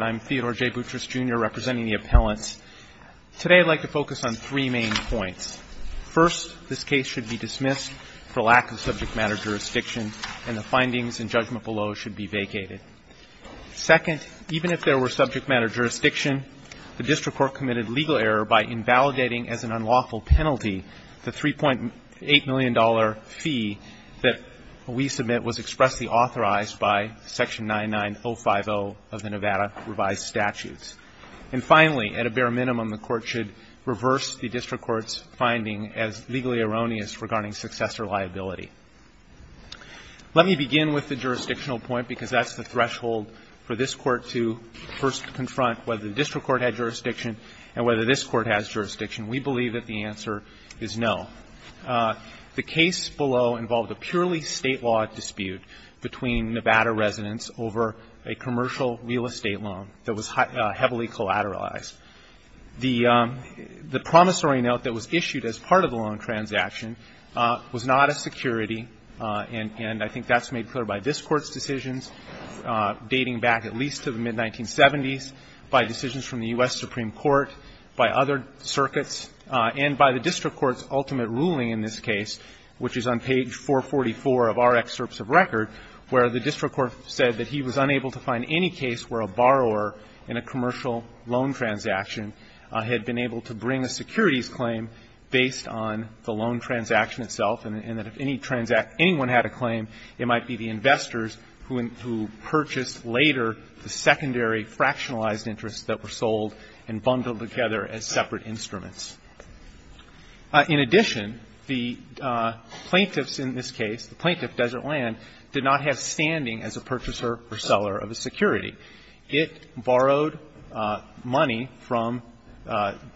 I'm Theodore J. Boutrous, Jr., representing the appellants. Today I'd like to focus on three main points. First, this case should be dismissed for lack of subject matter jurisdiction, and the findings and judgment below should be vacated. Second, even if there were subject matter jurisdiction, the district court committed legal error by invalidating, as an unlawful penalty, the $3.8 million fee that we submit was expressly authorized by Section 99050 of the Nevada Revised Statutes. And finally, at a bare minimum, the court should reverse the district court's finding as legally erroneous regarding successor liability. Let me begin with the jurisdictional point, because that's the threshold for this court to first confront whether the district court had jurisdiction and whether this court has jurisdiction. We believe that the answer is no. The case below involved a purely State law dispute between Nevada residents over a commercial real estate loan that was heavily collateralized. The promissory note that was issued as part of the loan transaction was not a security, and I think that's made clear by this Court's decisions, dating back at least to the mid-1970s, by decisions from the U.S. Supreme Court, by other circuits, and by the district court's ultimate ruling in this case, which is on page 444 of our excerpts of record, where the district court said that he was unable to find any case where a borrower in a commercial loan transaction had been able to bring a securities claim based on the loan transaction itself, and that if any transact anyone had a claim, it might be the investors who purchased later the secondary fractionalized interests that were sold and bundled together as separate instruments. In addition, the plaintiffs in this case, the plaintiff, Desert Land, did not have standing as a purchaser or seller of a security. It borrowed money from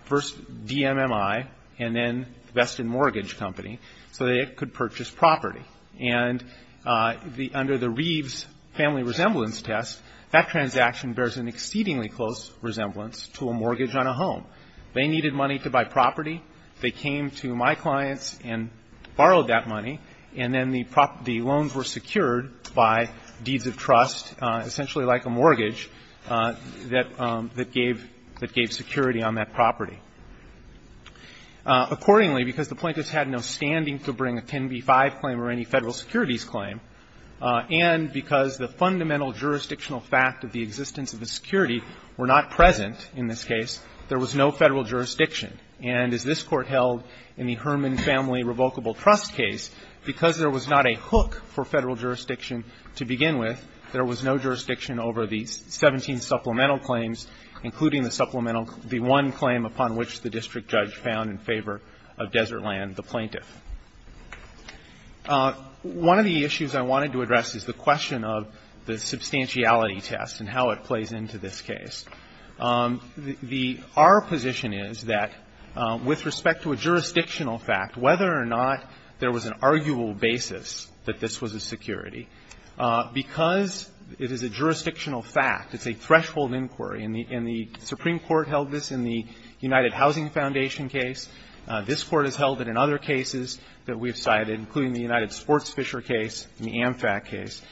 first DMMI and then Veston Mortgage Company so that it could purchase property. And under the Reeves family resemblance test, that transaction bears an exceedingly close resemblance to a mortgage on a home. They needed money to buy property. They came to my clients and borrowed that money, and then the loans were secured by deeds of trust, essentially like a mortgage, that gave security on that property. Accordingly, because the plaintiffs had no standing to bring a 10b-5 claim or any Federal securities claim, and because the fundamental jurisdictional fact of the existence of a security were not present in this case, there was no Federal jurisdiction. And as this Court held in the Herman family revocable trust case, because there was not a hook for Federal jurisdiction to begin with, there was no jurisdiction over the 17 supplemental claims, including the supplemental the one claim upon which the district judge found in favor of Desert Land, the plaintiff. One of the issues I wanted to address is the question of the substantiality test and how it plays into this case. The our position is that with respect to a jurisdictional fact, whether or not there was an arguable basis that this was a security, because it is a jurisdictional fact, it's a threshold inquiry, and the Supreme Court held this in the United Housing Foundation case. This Court has held it in other cases that we've cited, including the United Sports Fisher case and the AmFac case.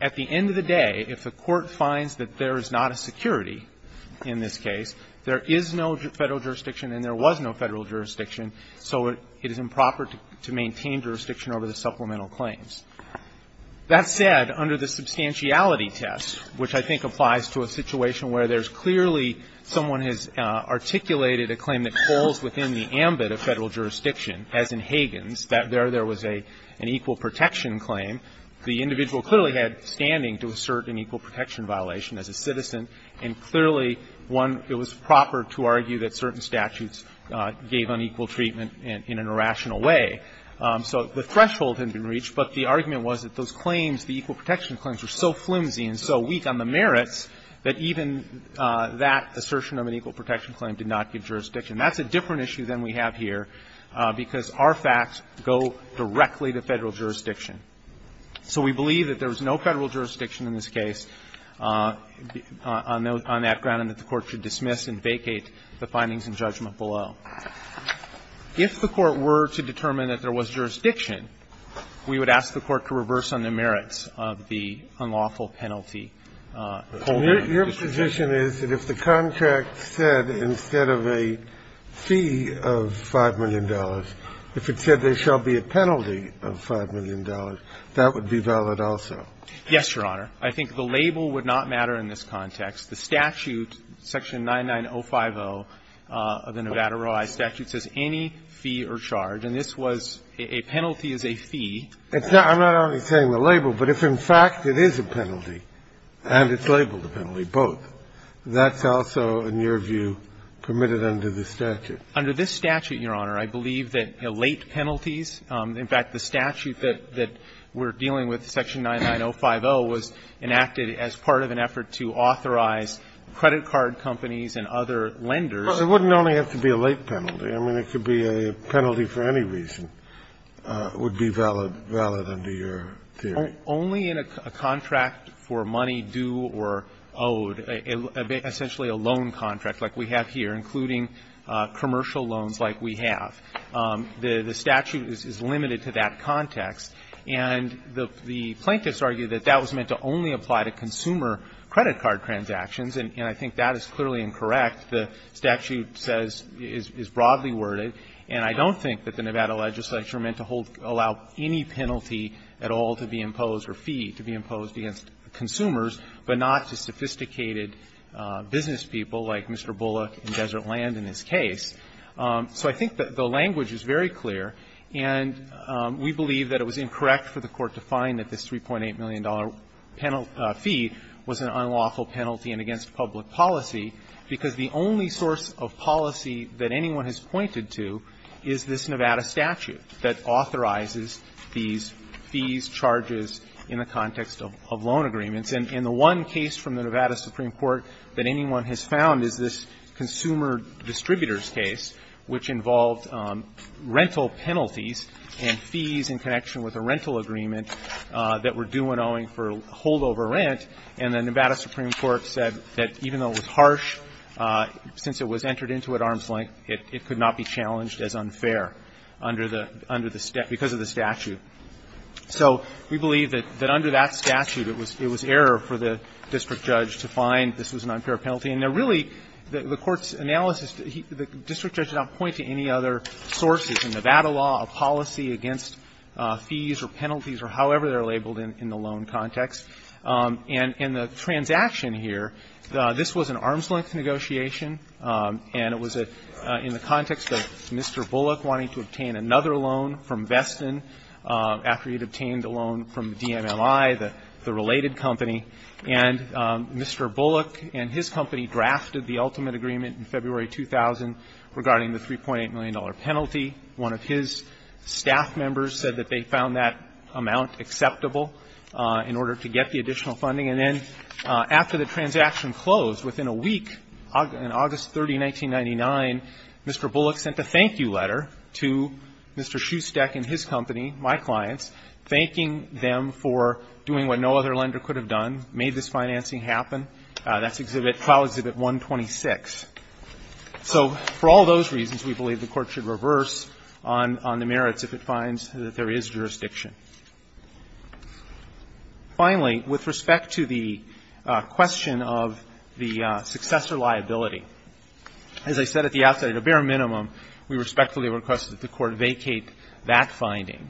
At the end of the day, if a court finds that there is not a security in this case, there is no Federal jurisdiction and there was no Federal jurisdiction, so it is improper to maintain jurisdiction over the supplemental claims. That said, under the substantiality test, which I think applies to a situation where there is clearly someone has articulated a claim that falls within the ambit of Federal jurisdiction, as in Hagen's, that there was an equal protection claim, the individual clearly had standing to assert an equal protection violation as a citizen, and clearly one, it was proper to argue that certain statutes gave equal and unequal treatment in a rational way. So the threshold had been reached, but the argument was that those claims, the equal protection claims, were so flimsy and so weak on the merits that even that assertion of an equal protection claim did not give jurisdiction. That's a different issue than we have here, because our facts go directly to Federal jurisdiction. So we believe that there was no Federal jurisdiction in this case on that ground that the Court should dismiss and vacate the findings and judgment below. If the Court were to determine that there was jurisdiction, we would ask the Court to reverse on the merits of the unlawful penalty holding. Kennedy. Your position is that if the contract said instead of a fee of $5 million, if it said there shall be a penalty of $5 million, that would be valid also? Yes, Your Honor. I think the label would not matter in this context. The statute, section 99050 of the Nevada ROI statute, says any fee or charge. And this was a penalty as a fee. I'm not only saying the label, but if in fact it is a penalty and it's labeled a penalty, both, that's also, in your view, permitted under the statute. Under this statute, Your Honor, I believe that late penalties, in fact, the statute that we're dealing with, section 99050, was enacted as part of an effort to authorize credit card companies and other lenders. Well, it wouldn't only have to be a late penalty. I mean, it could be a penalty for any reason would be valid under your theory. Only in a contract for money due or owed, essentially a loan contract like we have here, including commercial loans like we have. The statute is limited to that context. And the plaintiffs argue that that was meant to only apply to consumer credit card transactions, and I think that is clearly incorrect. The statute says, is broadly worded. And I don't think that the Nevada legislature meant to hold, allow any penalty at all to be imposed or fee to be imposed against consumers, but not to sophisticated business people like Mr. Bullock in Desert Land in this case. So I think that the language is very clear. And we believe that it was incorrect for the Court to find that this $3.8 million fee was an unlawful penalty and against public policy, because the only source of policy that anyone has pointed to is this Nevada statute that authorizes these fees, charges in the context of loan agreements. And the one case from the Nevada Supreme Court that anyone has found is this consumer distributors case, which involved rental penalties and fees in connection with a rental agreement that were due and owing for holdover rent. And the Nevada Supreme Court said that even though it was harsh, since it was entered into at arm's length, it could not be challenged as unfair under the step, because of the statute. So we believe that under that statute, it was error for the district judge to find this was an unfair penalty. Now, really, the Court's analysis, the district judge did not point to any other sources. In Nevada law, a policy against fees or penalties or however they are labeled in the loan context. And in the transaction here, this was an arm's length negotiation, and it was in the context of Mr. Bullock wanting to obtain another loan from Veston after he had obtained a loan from DMLI, the related company. And Mr. Bullock and his company drafted the ultimate agreement in February 2000 regarding the $3.8 million penalty. One of his staff members said that they found that amount acceptable in order to get the additional funding. And then after the transaction closed, within a week, in August 30, 1999, Mr. Bullock sent a thank-you letter to Mr. Schustek and his company, my clients, thanking them for doing what no other lender could have done, made this financing happen. That's Exhibit 126. So for all those reasons, we believe the Court should reverse on the merits if it finds that there is jurisdiction. Finally, with respect to the question of the successor liability, as I said at the outset, at a bare minimum, we respectfully request that the Court vacate that finding.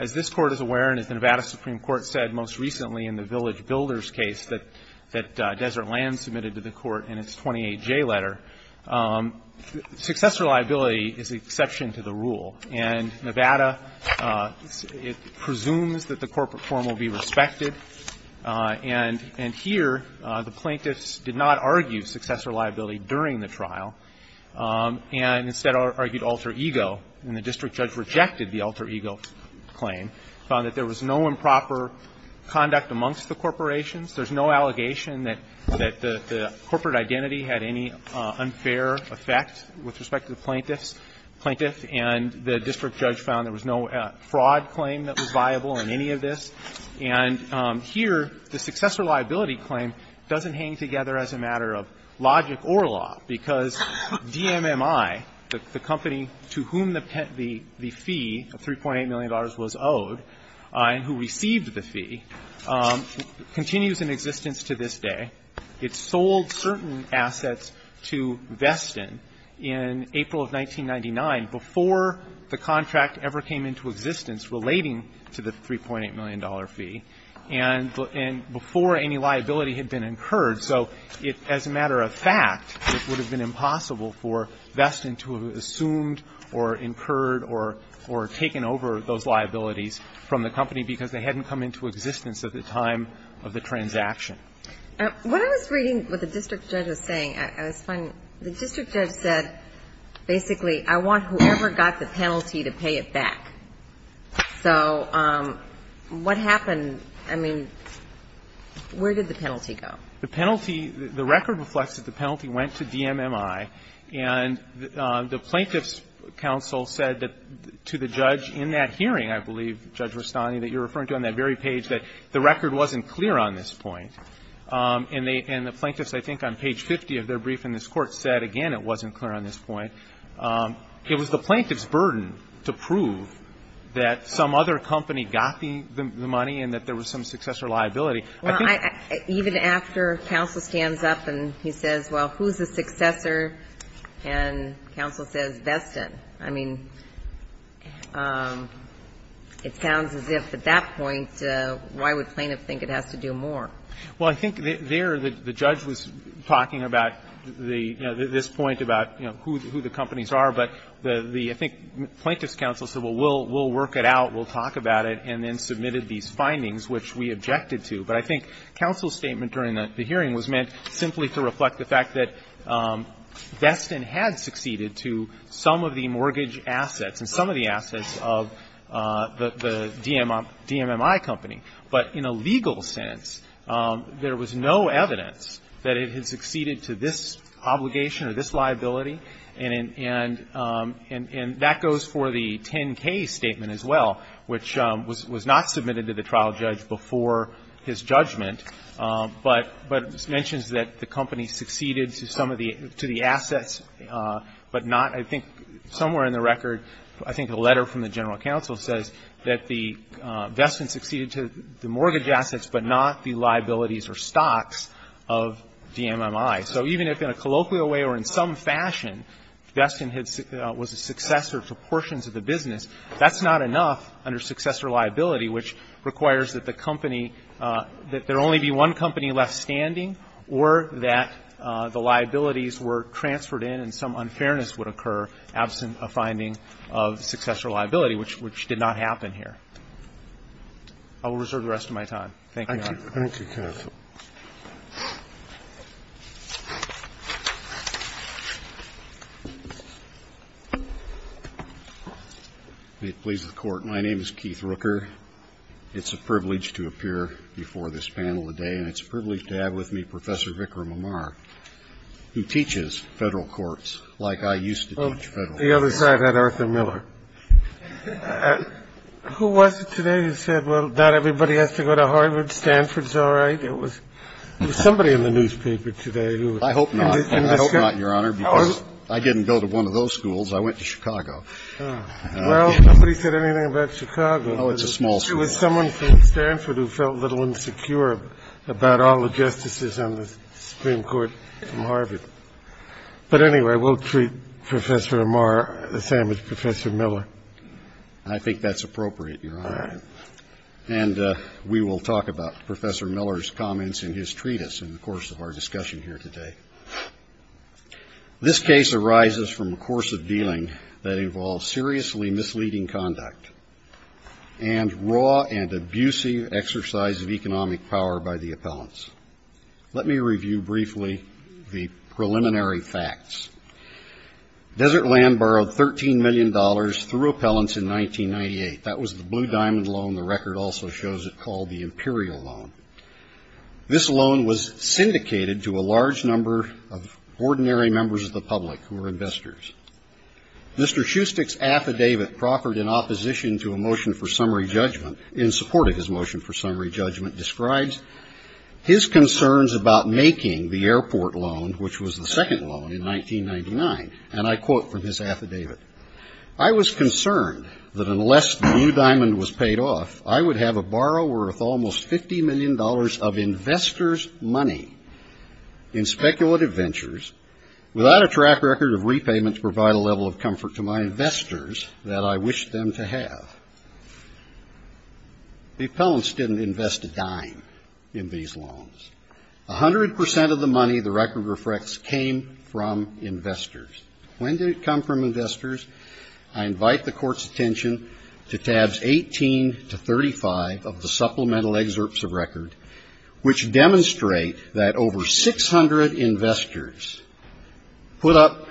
As this Court is aware, and as the Nevada Supreme Court said most recently in the Village Builders case that Desert Land submitted to the Court in its 28J letter, successor liability is the exception to the rule. And Nevada, it presumes that the corporate form will be respected. And here, the plaintiffs did not argue successor liability during the trial, and instead argued alter ego, and the district judge rejected the alter ego claim, found that there was no improper conduct amongst the corporations, there's no allegation that the corporate identity had any unfair effect with respect to the plaintiffs, and the district judge found there was no fraud claim that was viable in any of this. And here, the successor liability claim doesn't hang together as a matter of logic or law, because DMMI, the company to whom the fee of $3.8 million was owed and who received the fee, continues in existence to this day. It sold certain assets to Veston in April of 1999 before the contract ever came into existence relating to the $3.8 million fee, and before any liability had been incurred. So as a matter of fact, it would have been impossible for Veston to have assumed or incurred or taken over those liabilities from the company because they hadn't come into existence at the time of the transaction. What I was reading what the district judge was saying, I was finding, the district judge said, basically, I want whoever got the penalty to pay it back. So what happened? I mean, where did the penalty go? The penalty, the record reflects that the penalty went to DMMI, and the Plaintiffs' Counsel said that to the judge in that hearing, I believe, Judge Rustani, that you're referring to on that very page, that the record wasn't clear on this point. And the Plaintiffs, I think on page 50 of their brief in this Court, said, again, it wasn't clear on this point. It was the Plaintiffs' burden to prove that some other company got the money and that there was some successor liability. I think that's the case. Even after counsel stands up and he says, well, who's the successor, and counsel says Veston. I mean, it sounds as if at that point, why would plaintiff think it has to do more? Well, I think there the judge was talking about the, you know, this point about, you know, who the companies are. But the, I think, Plaintiffs' Counsel said, well, we'll work it out, we'll talk about it, and then submitted these findings, which we objected to. But I think counsel's statement during the hearing was meant simply to reflect the fact that Veston had succeeded to some of the mortgage assets and some of the assets of the DMMI company. But in a legal sense, there was no evidence that it had succeeded to this obligation or this liability. And that goes for the 10-K statement as well, which was not submitted to the trial judge before his judgment, but mentions that the company succeeded to some of the assets, but not, I think, somewhere in the record, I think a letter from the general counsel says that Veston succeeded to the mortgage assets, but not the liabilities or stocks of DMMI. So even if in a colloquial way or in some fashion Veston was a successor to portions of the business, that's not enough under successor liability, which requires that the company, that there only be one company left standing or that the liabilities were transferred in and some unfairness would occur absent a finding of successor liability, which did not happen here. I will reserve the rest of my time. Thank you, Your Honor. Thank you, counsel. May it please the Court, my name is Keith Rooker. It's a privilege to appear before this panel today, and it's a privilege to have with me Professor Vikram Amar, who teaches federal courts like I used to teach federal courts. The other side had Arthur Miller. Who was it today who said, well, not everybody has to go to Harvard, Stanford's all right? It was somebody in the newspaper today who was. I hope not. I hope not, Your Honor, because I didn't go to one of those schools. I went to Chicago. Well, nobody said anything about Chicago. Oh, it's a small school. It was someone from Stanford who felt a little insecure about all the justices on the Supreme Court from Harvard. But anyway, we'll treat Professor Amar the same as Professor Miller. I think that's appropriate, Your Honor. And we will talk about Professor Miller's comments in his treatise in the course of our discussion here today. This case arises from a course of dealing that involves seriously misleading conduct and raw and abusive exercise of economic power by the appellants. Let me review briefly the preliminary facts. Desert Land borrowed $13 million through appellants in 1998. That was the Blue Diamond loan. The record also shows it called the Imperial loan. This loan was syndicated to a large number of ordinary members of the public who were investors. Mr. Schustek's affidavit proffered in opposition to a motion for summary judgment in support of his motion for summary judgment describes his concerns about making the airport loan, which was the second loan in 1999. And I quote from his affidavit, I was concerned that unless the Blue Diamond was paid off, I would have a borrow worth almost $50 million of investors' money in speculative ventures without a track record of repayment to provide a level of comfort to my The appellants didn't invest a dime in these loans. 100% of the money the record reflects came from investors. When did it come from investors? I invite the Court's attention to tabs 18 to 35 of the supplemental excerpts of record, which demonstrate that over 600 investors put up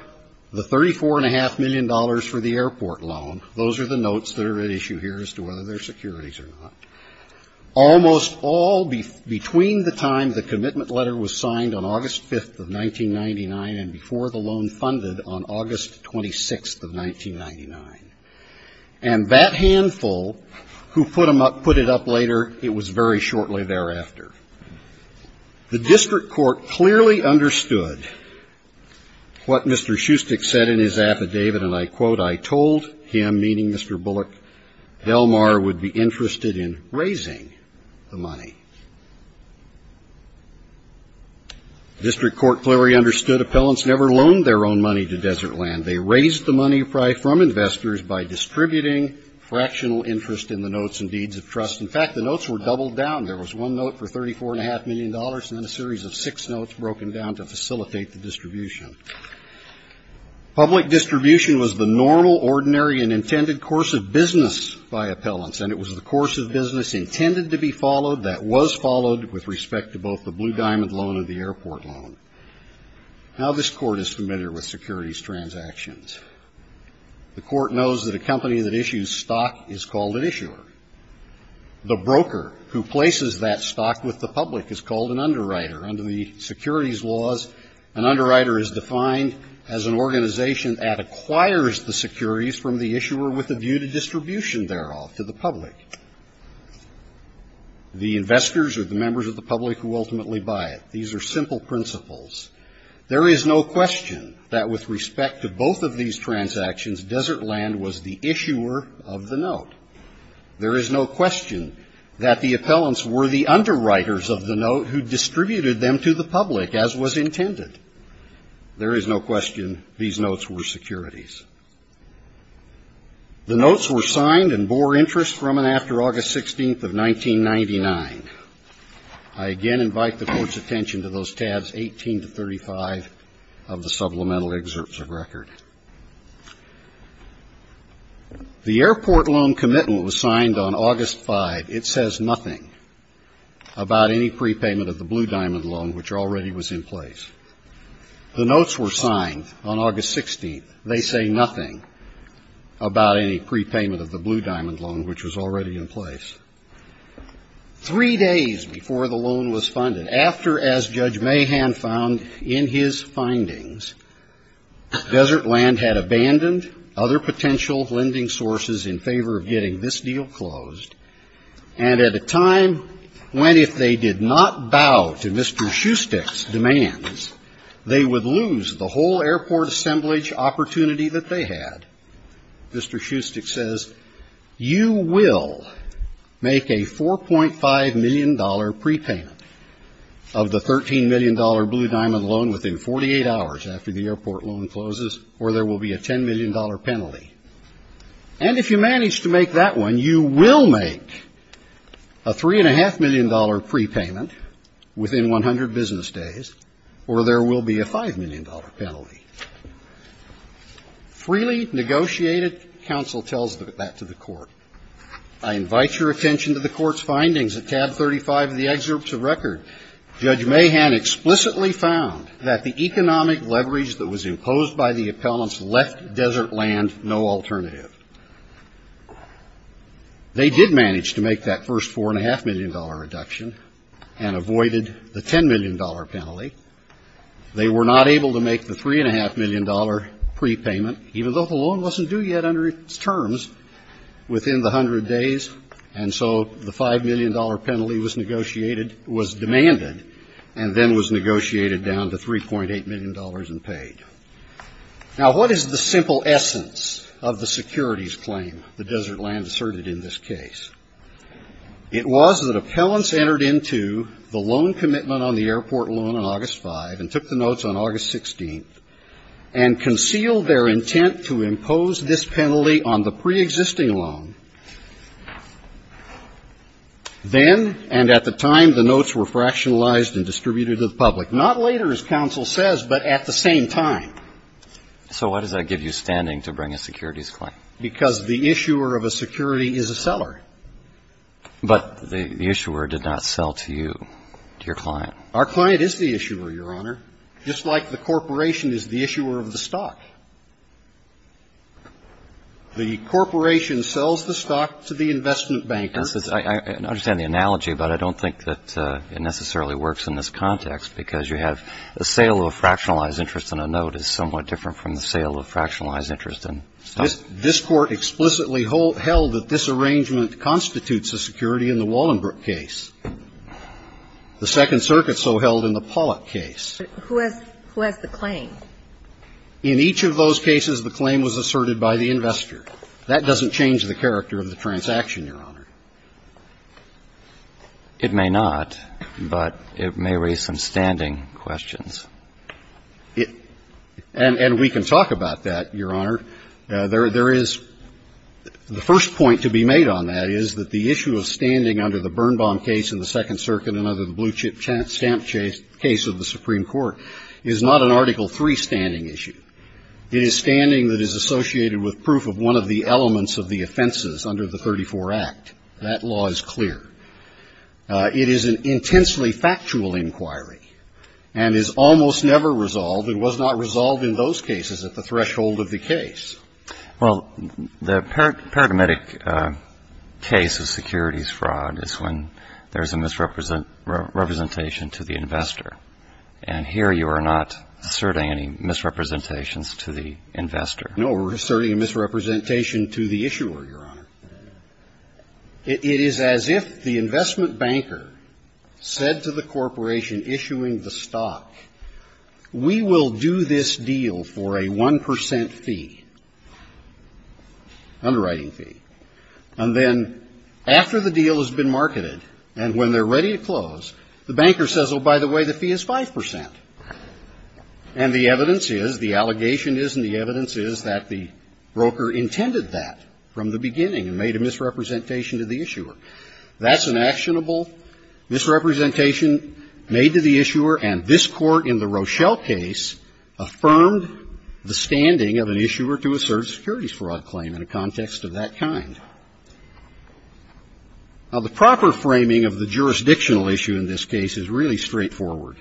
the $34.5 million for the airport loan. Those are the notes that are at issue here as to whether they're securities or not. Almost all between the time the commitment letter was signed on August 5th of 1999 and before the loan funded on August 26th of 1999. And that handful who put it up later, it was very shortly thereafter. The district court clearly understood what Mr. Schustek said in his affidavit, and I quote, I told him, meaning Mr. Bullock, Elmar would be interested in raising the money. District court clearly understood appellants never loaned their own money to Desertland. They raised the money from investors by distributing fractional interest in the notes and deeds of trust. In fact, the notes were doubled down. There was one note for $34.5 million and then a series of six notes broken down to facilitate the distribution. Public distribution was the normal, ordinary, and intended course of business by appellants, and it was the course of business intended to be followed that was followed with respect to both the Blue Diamond loan and the airport loan. Now, this Court is familiar with securities transactions. The Court knows that a company that issues stock is called an issuer. The broker who places that stock with the public is called an underwriter. Under the securities laws, an underwriter is defined as an organization that acquires the securities from the issuer with a view to distribution thereof to the public. The investors are the members of the public who ultimately buy it. These are simple principles. There is no question that with respect to both of these transactions, Desertland was the issuer of the note. There is no question that the appellants were the underwriters of the note who distributed them to the public, as was intended. There is no question these notes were securities. The notes were signed and bore interest from and after August 16th of 1999. I again invite the Court's attention to those tabs 18 to 35 of the supplemental excerpts of record. The airport loan commitment was signed on August 5th. It says nothing about any prepayment of the Blue Diamond loan, which already was in place. The notes were signed on August 16th. They say nothing about any prepayment of the Blue Diamond loan, which was already in place. Three days before the loan was funded, after, as Judge Mahan found in his findings, Desertland had abandoned other potential lending sources in favor of getting this deal closed, and at a time when if they did not bow to Mr. Schustek's demands, they would lose the whole airport assemblage opportunity that they had, Mr. Schustek says, you will make a $4.5 million prepayment of the $13 million Blue Diamond loan within 48 hours after the airport loan closes, or there will be a $10 million penalty. And if you manage to make that one, you will make a $3.5 million prepayment within 100 business days, or there will be a $5 million penalty. Freely negotiated, counsel tells that to the court. I invite your attention to the court's findings. At tab 35 of the excerpts of record, Judge Mahan explicitly found that the economic leverage that was imposed by the appellants left Desertland no alternative. They did manage to make that first $4.5 million deduction and avoided the $10 million penalty. They were not able to make the $3.5 million prepayment, even though the loan wasn't due yet under its terms within the 100 days, and so the $5 million penalty was negotiated, was demanded, and then was negotiated down to $3.8 million and paid. Now, what is the simple essence of the securities claim that Desertland asserted in this case? It was that appellants entered into the loan commitment on the airport loan on August 5th and took the notes on August 16th and concealed their intent to impose this penalty on the preexisting loan. Then and at the time, the notes were fractionalized and distributed to the public. Not later, as counsel says, but at the same time. So why does that give you standing to bring a securities claim? Because the issuer of a security is a seller. But the issuer did not sell to you, to your client. Our client is the issuer, Your Honor, just like the corporation is the issuer of the stock. The corporation sells the stock to the investment banker. I understand the analogy, but I don't think that it necessarily works in this context, because you have a sale of a fractionalized interest and a note is somewhat different from the sale of a fractionalized interest in stock. This Court explicitly held that this arrangement constitutes a security in the Wallenberg case. The Second Circuit so held in the Pollack case. Who has the claim? In each of those cases, the claim was asserted by the investor. That doesn't change the character of the transaction, Your Honor. It may not, but it may raise some standing questions. And we can talk about that, Your Honor. There is the first point to be made on that is that the issue of standing under the Birnbaum case in the Second Circuit and under the Blue Chip Stamp case of the Supreme Court is not an Article III standing issue. It is standing that is associated with proof of one of the elements of the offenses under the 34 Act. That law is clear. It is an intensely factual inquiry and is almost never resolved and was not resolved in those cases at the threshold of the case. Well, the paradigmatic case of securities fraud is when there is a misrepresentation to the investor. And here you are not asserting any misrepresentations to the investor. No, we're asserting a misrepresentation to the issuer, Your Honor. It is as if the investment banker said to the corporation issuing the stock, we will do this deal for a 1 percent fee, underwriting fee. And then after the deal has been marketed and when they're ready to close, the banker says, oh, by the way, the fee is 5 percent. And the evidence is, the allegation is and the evidence is that the broker intended that from the beginning and made a misrepresentation to the issuer. That's an actionable misrepresentation made to the issuer, and this Court in the Rochelle case affirmed the standing of an issuer to assert a securities fraud claim in a context of that kind. Now, the proper framing of the jurisdictional issue in this case is really straightforward.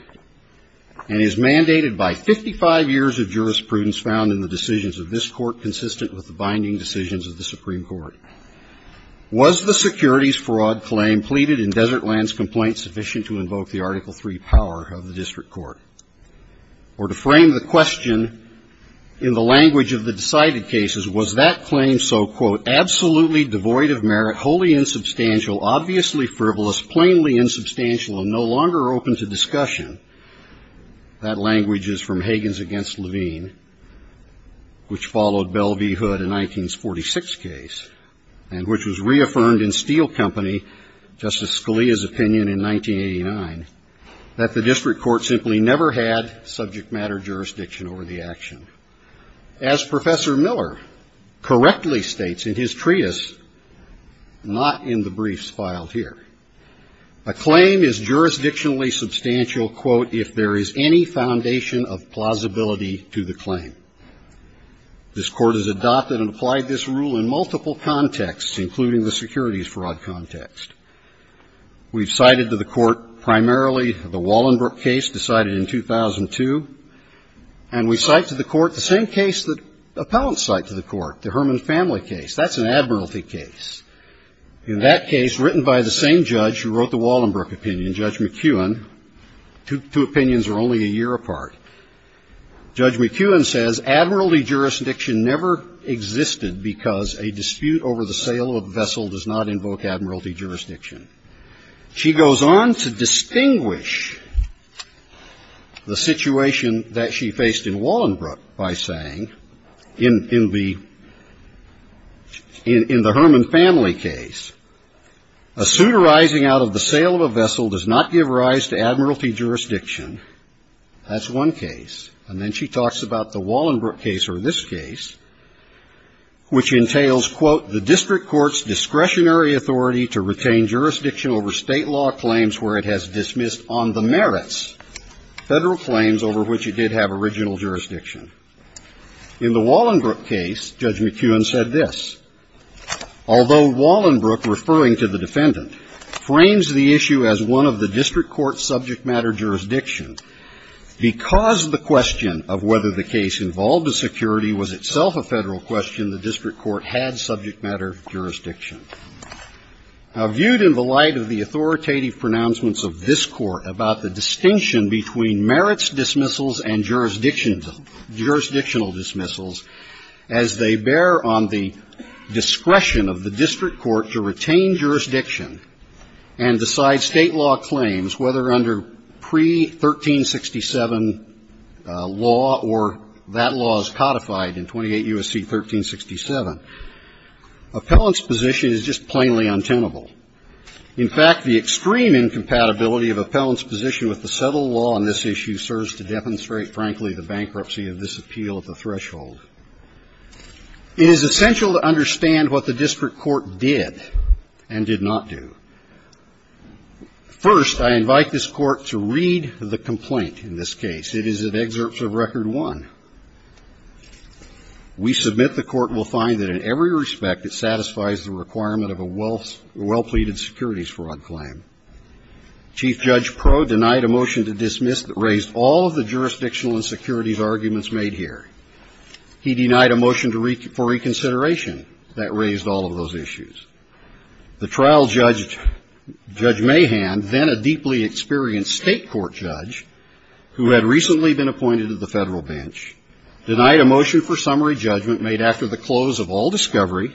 And is mandated by 55 years of jurisprudence found in the decisions of this Court consistent with the binding decisions of the Supreme Court. Was the securities fraud claim pleaded in Desertland's complaint sufficient to invoke the Article III power of the District Court? Or to frame the question in the language of the decided cases, was that claim so, quote, absolutely devoid of merit, wholly insubstantial, obviously frivolous, plainly insubstantial and no longer open to discussion, that language is from Hagen's against Levine, which followed Bell v. Hood in 1946 case, and which was reaffirmed in Steel Company, Justice Scalia's opinion in 1989, that the District Court simply never had subject matter jurisdiction over the action. As Professor Miller correctly states in his treatise, not in the briefs filed here, a jurisdictionally substantial, quote, if there is any foundation of plausibility to the claim. This Court has adopted and applied this rule in multiple contexts, including the securities fraud context. We've cited to the Court primarily the Wallenberg case decided in 2002. And we cite to the Court the same case that appellants cite to the Court, the Herman Family case. That's an admiralty case. In that case, written by the same judge who wrote the Wallenberg opinion, Judge McEwen, two opinions are only a year apart. Judge McEwen says, admiralty jurisdiction never existed because a dispute over the sale of a vessel does not invoke admiralty jurisdiction. She goes on to distinguish the situation that she faced in Wallenberg by saying, in the Herman Family case, a suit arising out of the sale of a vessel does not give rise to admiralty jurisdiction. That's one case. And then she talks about the Wallenberg case or this case, which entails, quote, the District Court's discretionary authority to retain jurisdiction over State law claims where it has dismissed on the merits Federal claims over which it did have original jurisdiction. In the Wallenberg case, Judge McEwen said this. Although Wallenberg, referring to the defendant, frames the issue as one of the District Court's subject matter jurisdiction, because the question of whether the case involved a security was itself a Federal question, the District Court had subject matter jurisdiction. Now, viewed in the light of the authoritative pronouncements of this Court about the jurisdictional dismissals, as they bear on the discretion of the District Court to retain jurisdiction and decide State law claims, whether under pre-1367 law or that law as codified in 28 U.S.C. 1367, appellant's position is just plainly untenable. In fact, the extreme incompatibility of appellant's position with the settled law on the basis of the District Court's discretionary authority to retain jurisdiction In the light of this appeal at the threshold, it is essential to understand what the District Court did and did not do. First, I invite this Court to read the complaint in this case. It is at excerpts of Record I. We submit the Court will find that in every respect it satisfies the requirement of a well-pleaded securities fraud claim. Chief Judge Proe denied a motion to dismiss that raised all of the jurisdictional and securities arguments made here. He denied a motion for reconsideration that raised all of those issues. The trial judge, Judge Mahan, then a deeply experienced State court judge who had recently been appointed to the Federal bench, denied a motion for summary judgment made after the close of all discovery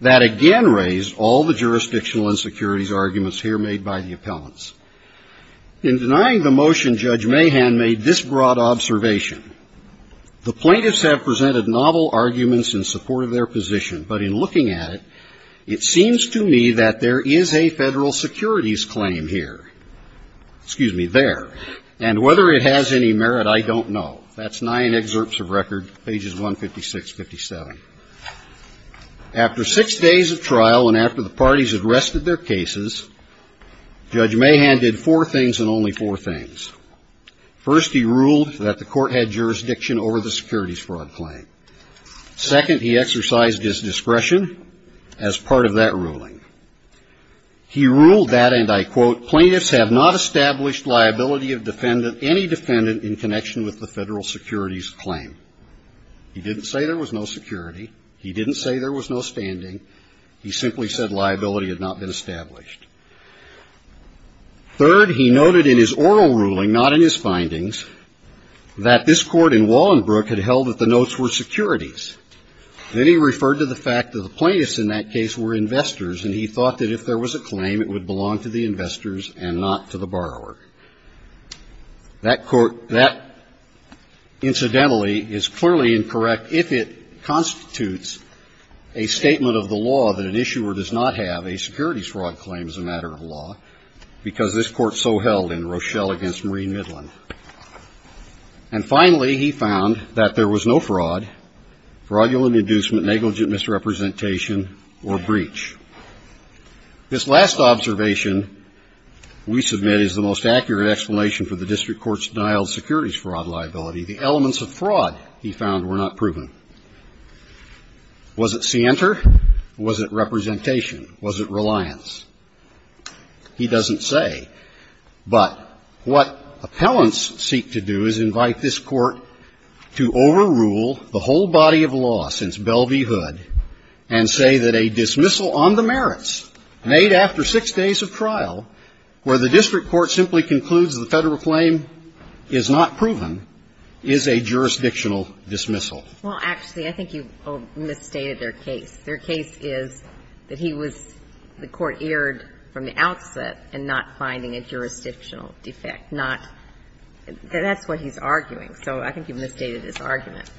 that again raised all the jurisdictional and securities arguments here made by the appellants. In denying the motion, Judge Mahan made this broad observation. The plaintiffs have presented novel arguments in support of their position, but in looking at it, it seems to me that there is a Federal securities claim here, excuse me, there, and whether it has any merit, I don't know. That's nine excerpts of Record, pages 156, 57. After six days of trial and after the parties had rested their cases, Judge Mahan did four things and only four things. First, he ruled that the Court had jurisdiction over the securities fraud claim. Second, he exercised his discretion as part of that ruling. He ruled that, and I quote, plaintiffs have not established liability of defendant, any defendant in connection with the Federal securities claim. He didn't say there was no security. He didn't say there was no standing. He simply said liability had not been established. Third, he noted in his oral ruling, not in his findings, that this Court in Wallenbrook had held that the notes were securities. Then he referred to the fact that the plaintiffs in that case were investors, and he thought that if there was a claim, it would belong to the investors and not to the borrower. That court, that incidentally is clearly incorrect if it constitutes a statement of the law that an issuer does not have a securities fraud claim as a matter of law, because this Court so held in Rochelle v. Marine Midland. And finally, he found that there was no fraud, fraudulent inducement, negligent misrepresentation, or breach. This last observation we submit is the most accurate explanation for the district court's denial of securities fraud liability. The elements of fraud, he found, were not proven. Was it scienter? Was it representation? Was it reliance? He doesn't say. But what appellants seek to do is invite this Court to overrule the whole body of law since Bell v. Hood and say that a dismissal on the merits made after six days of trial where the district court simply concludes the Federal claim is not proven is a jurisdictional dismissal. Well, actually, I think you've misstated their case. Their case is that he was, the Court erred from the outset in not finding a jurisdictional defect, not, that's what he's arguing. So I think you've misstated his argument.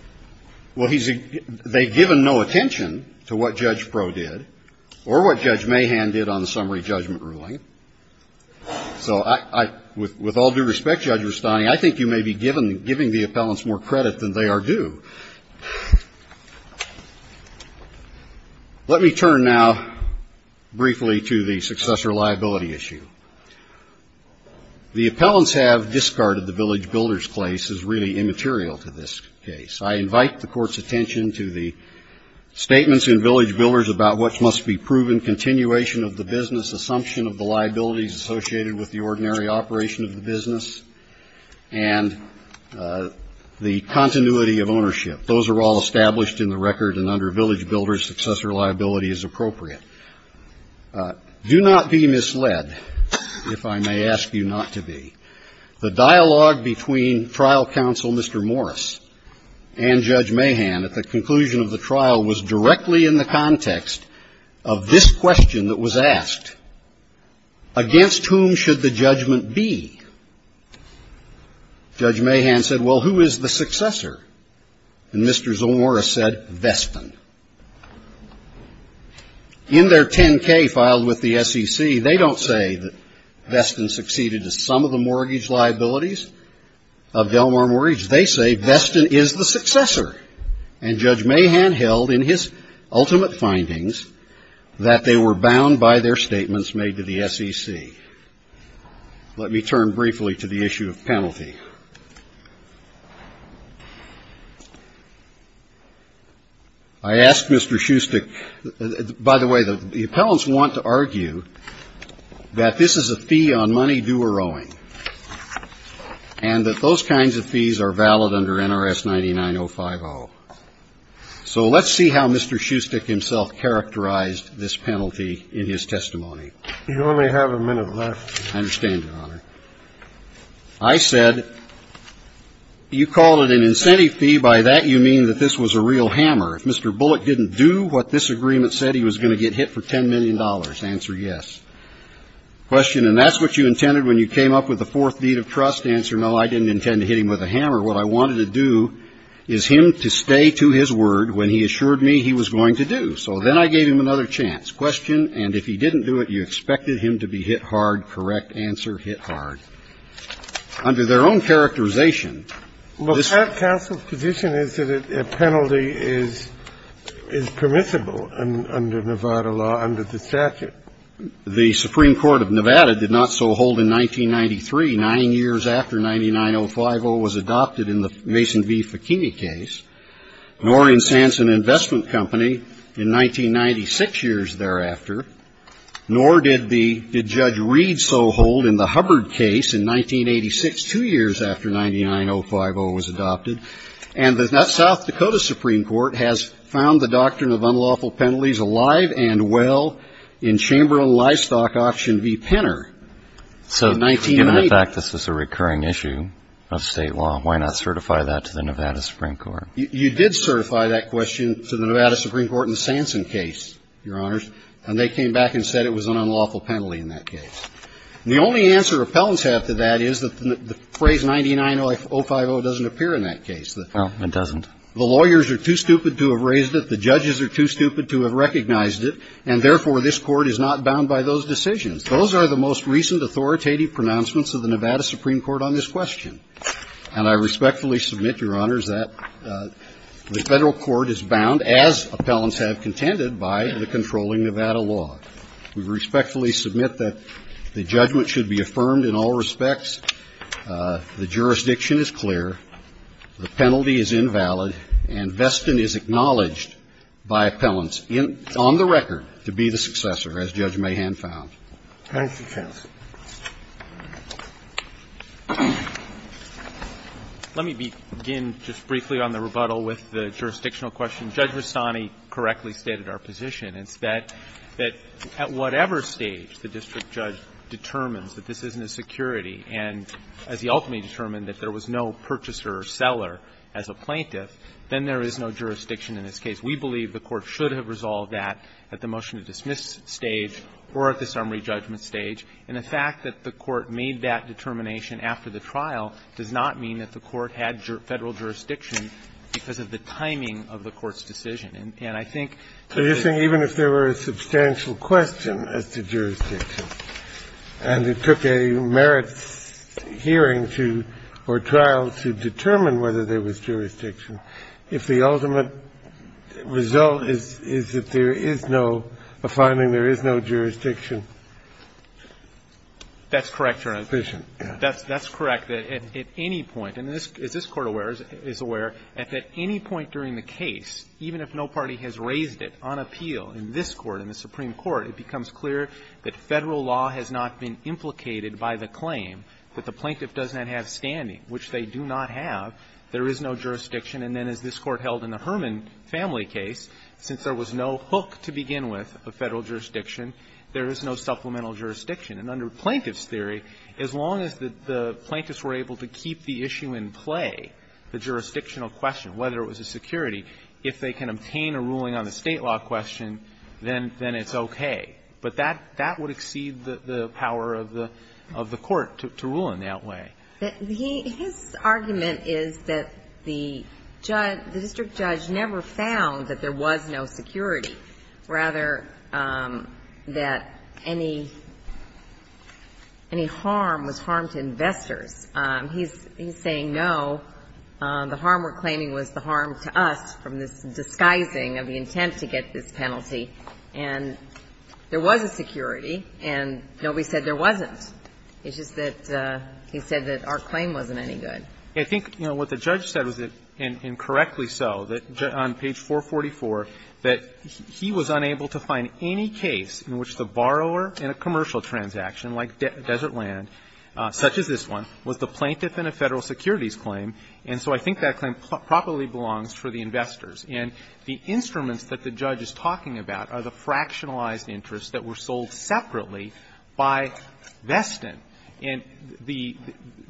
Well, he's, they've given no attention to what Judge Proulx did or what Judge Mahan did on the summary judgment ruling. So I, with all due respect, Judge Rustani, I think you may be given, giving the appellants more credit than they are due. Let me turn now briefly to the successor liability issue. The appellants have discarded the Village Builders case as really immaterial to this case. I invite the Court's attention to the statements in Village Builders about what must be proven continuation of the business assumption of the liabilities associated with the ordinary operation of the business and the continuity of ownership. Those are all established in the record, and under Village Builders, successor liability is appropriate. Do not be misled, if I may ask you not to be. The dialogue between trial counsel Mr. Morris and Judge Mahan at the conclusion of the trial was directly in the context of this question that was asked. Against whom should the judgment be? Judge Mahan said, well, who is the successor? And Mr. Zell Morris said, Veston. In their 10-K filed with the SEC, they don't say that Veston succeeded in some of the mortgage liabilities of Delmar Mortgage. They say Veston is the successor. And Judge Mahan held in his ultimate findings that they were bound by their statements made to the SEC. Let me turn briefly to the issue of penalty. I ask Mr. Schustek, by the way, the appellants want to argue that this is a fee on money due or owing, and that those kinds of fees are valid under NRS 9905R. So let's see how Mr. Schustek himself characterized this penalty in his testimony. You only have a minute left. I understand, Your Honor. I said, you called it an incentive fee. By that, you mean that this was a real hammer. If Mr. Bullock didn't do what this agreement said, he was going to get hit for $10 million. Answer, yes. Question, and that's what you intended when you came up with the fourth deed of trust? Answer, no, I didn't intend to hit him with a hammer. What I wanted to do is him to stay to his word when he assured me he was going to do. So then I gave him another chance. Question, and if he didn't do it, you expected him to be hit hard. Correct answer, hit hard. Under their own characterization, this ---- But that counsel's position is that a penalty is permissible under Nevada law, under the statute. The Supreme Court of Nevada did not so hold in 1993. Nine years after 99050 was adopted in the Mason v. Fekinney case. Nor in Sanson Investment Company in 1996 years thereafter. Nor did Judge Reed so hold in the Hubbard case in 1986, two years after 99050 was adopted. And the South Dakota Supreme Court has found the doctrine of unlawful penalties alive and well in Chamberlain Livestock Option v. Penner. So given the fact this is a recurring issue of State law, why not certify that to the Nevada Supreme Court? You did certify that question to the Nevada Supreme Court in the Sanson case, Your Honors. And they came back and said it was an unlawful penalty in that case. The only answer appellants have to that is that the phrase 99050 doesn't appear in that case. Oh, it doesn't. The lawyers are too stupid to have raised it. The judges are too stupid to have recognized it. And therefore, this Court is not bound by those decisions. Those are the most recent authoritative pronouncements of the Nevada Supreme Court on this question. And I respectfully submit, Your Honors, that the Federal court is bound, as appellants have contended, by the controlling Nevada law. We respectfully submit that the judgment should be affirmed in all respects. The jurisdiction is clear. The penalty is invalid. And Veston is acknowledged by appellants on the record to be the successor, as Judge Mayhan found. Thank you, Justice. Let me begin just briefly on the rebuttal with the jurisdictional question. Judge Rastani correctly stated our position. It's that at whatever stage the district judge determines that this isn't a security, and as he ultimately determined that there was no purchaser or seller as a plaintiff, then there is no jurisdiction in this case. We believe the Court should have resolved that at the motion-to-dismiss stage or at the summary judgment stage. And the fact that the Court made that determination after the trial does not mean that the Court had Federal jurisdiction because of the timing of the Court's decision. And I think that the Jurisdiction. And it took a merits hearing to or trial to determine whether there was jurisdiction if the ultimate result is that there is no, a finding there is no jurisdiction. That's correct, Your Honor. That's correct. At any point, and is this Court aware, is aware that at any point during the case, even if no party has raised it on appeal in this Court, in the Supreme Court, it becomes clear that Federal law has not been implicated by the claim that the plaintiff does not have standing, which they do not have, there is no jurisdiction. And then as this Court held in the Herman family case, since there was no hook to begin with of Federal jurisdiction, there is no supplemental jurisdiction. And under Plaintiff's theory, as long as the plaintiffs were able to keep the issue in play, the jurisdictional question, whether it was a security, if they can obtain a ruling on the State law question, then it's okay. But that would exceed the power of the Court to rule in that way. His argument is that the district judge never found that there was no security, rather that any harm was harm to investors. He's saying, no, the harm we're claiming was the harm to us from this disguising of the intent to get this penalty, and there was a security, and nobody said there wasn't. It's just that he said that our claim wasn't any good. I think, you know, what the judge said was, and correctly so, on page 444, that he was unable to find any case in which the borrower in a commercial transaction like desert land, such as this one, was the plaintiff in a Federal securities claim, and so I think that claim properly belongs for the investors. And the instruments that the judge is talking about are the fractionalized interests that were sold separately by Veston. And the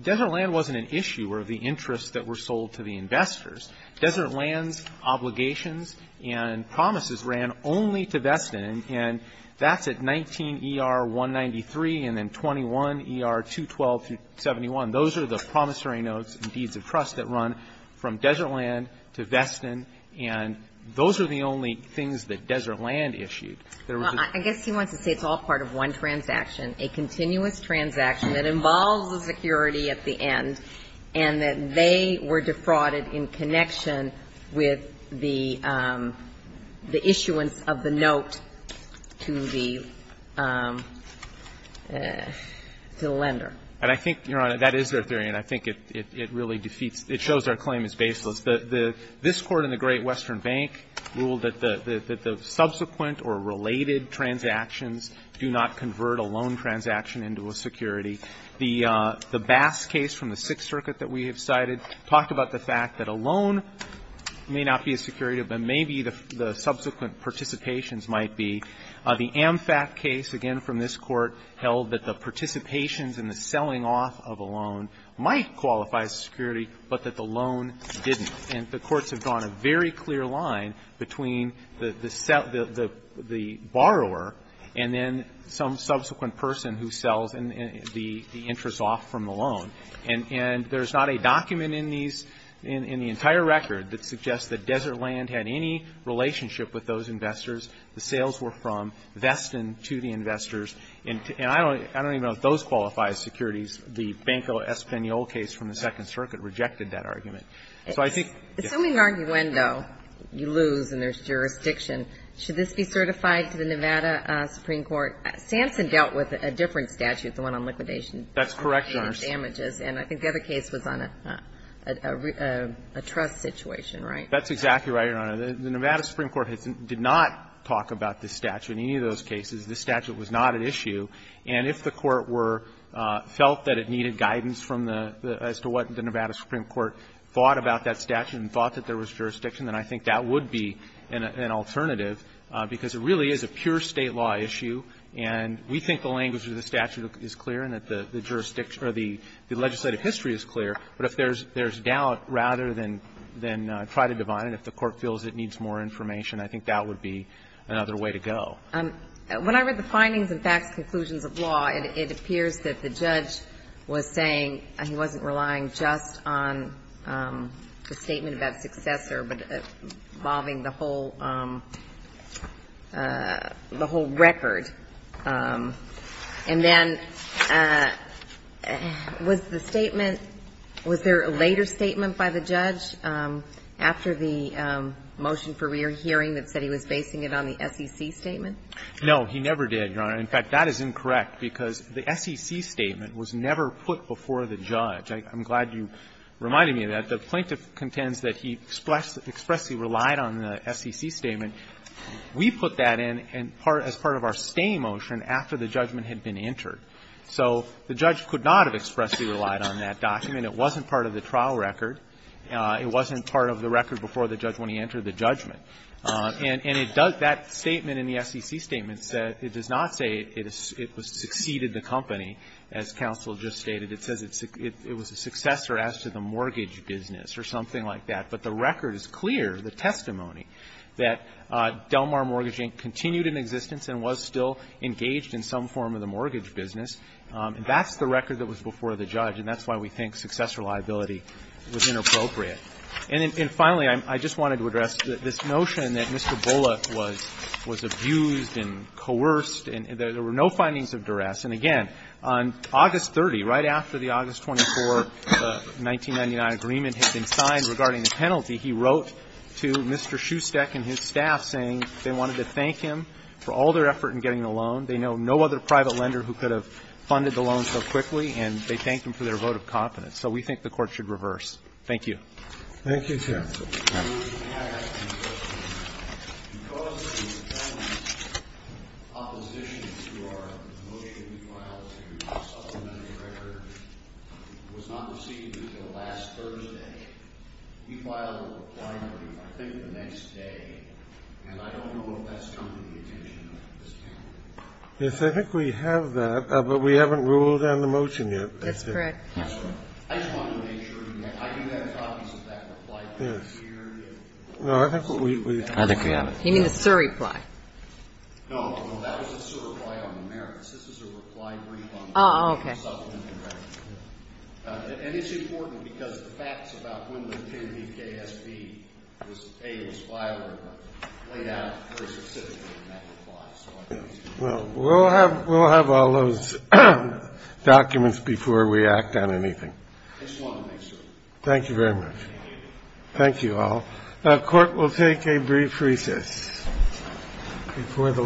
desert land wasn't an issue or the interests that were sold to the investors. Desert land's obligations and promises ran only to Veston, and that's at 19ER193 and then 21ER212-71. Those are the promissory notes and deeds of trust that run from desert land to Veston, and those are the only things that desert land issued. There was a ---- Well, I guess he wants to say it's all part of one transaction, a continuous transaction, that involves the security at the end, and that they were defrauded in connection with the issuance of the note to the lender. And I think, Your Honor, that is their theory, and I think it really defeats ---- it shows our claim is baseless. This Court in the Great Western Bank ruled that the subsequent or related transactions do not convert a loan transaction into a security. The Bass case from the Sixth Circuit that we have cited talked about the fact that a loan may not be a security, but maybe the subsequent participations might be. The Amfac case, again from this Court, held that the participations in the selling off of a loan might qualify as a security, but that the loan didn't. And the courts have drawn a very clear line between the borrower and then some subsequent person who sells the interest off from the loan. And there is not a document in these ---- in the entire record that suggests that desert land had any relationship with those investors. The sales were from Veston to the investors. And I don't even know if those qualify as securities. The Banco Espanol case from the Second Circuit rejected that argument. So I think, yes. Ginsburg. Assuming an arguendo, you lose and there is jurisdiction, should this be certified to the Nevada Supreme Court? Samson dealt with a different statute, the one on liquidation. That's correct, Your Honor. And I think the other case was on a trust situation, right? That's exactly right, Your Honor. The Nevada Supreme Court did not talk about this statute in any of those cases. This statute was not at issue. And if the Court were ---- felt that it needed guidance from the ---- as to what the statute was and thought about that statute and thought that there was jurisdiction, then I think that would be an alternative, because it really is a pure State law issue and we think the language of the statute is clear and that the jurisdiction or the legislative history is clear. But if there's doubt rather than try to divide it, if the Court feels it needs more information, I think that would be another way to go. When I read the findings and facts conclusions of law, it appears that the judge was saying he wasn't relying just on the statement about successor, but involving the whole ---- the whole record. And then, was the statement ---- was there a later statement by the judge after the motion for rear hearing that said he was basing it on the SEC statement? No, he never did, Your Honor. In fact, that is incorrect, because the SEC statement was never put before the judge. I'm glad you reminded me of that. The plaintiff contends that he expressly relied on the SEC statement. We put that in as part of our stay motion after the judgment had been entered. So the judge could not have expressly relied on that document. It wasn't part of the trial record. It wasn't part of the record before the judge when he entered the judgment. And it does ---- that statement in the SEC statement said ---- it does not say it was ---- it succeeded the company, as counsel just stated. It says it was a successor as to the mortgage business or something like that. But the record is clear, the testimony, that Del Mar Mortgage Inc. continued in existence and was still engaged in some form of the mortgage business. That's the record that was before the judge, and that's why we think successor liability was inappropriate. And finally, I just wanted to address this notion that Mr. Bullock was abused and coerced and there were no findings of duress. And again, on August 30, right after the August 24, 1999 agreement had been signed regarding the penalty, he wrote to Mr. Schustek and his staff saying they wanted to thank him for all their effort in getting the loan. They know no other private lender who could have funded the loan so quickly, and they thanked him for their vote of confidence. So we think the Court should reverse. Thank you. Thank you, counsel. Yes, I think we have that, but we haven't ruled on the motion yet. That's correct. I just wanted to make sure. I do have copies of that reply. Yes. No, I think we have it. I think we have it. You mean the sur-reply? No, that was a sur-reply on the merits. This is a reply brief on the subliminary. Oh, okay. And it's important because the facts about when the KBKSB was paid, was filed, are laid out very specifically in that reply. Well, we'll have all those documents before we act on anything. I just wanted to make sure. Thank you very much. Thank you. Thank you all. The Court will take a brief recess.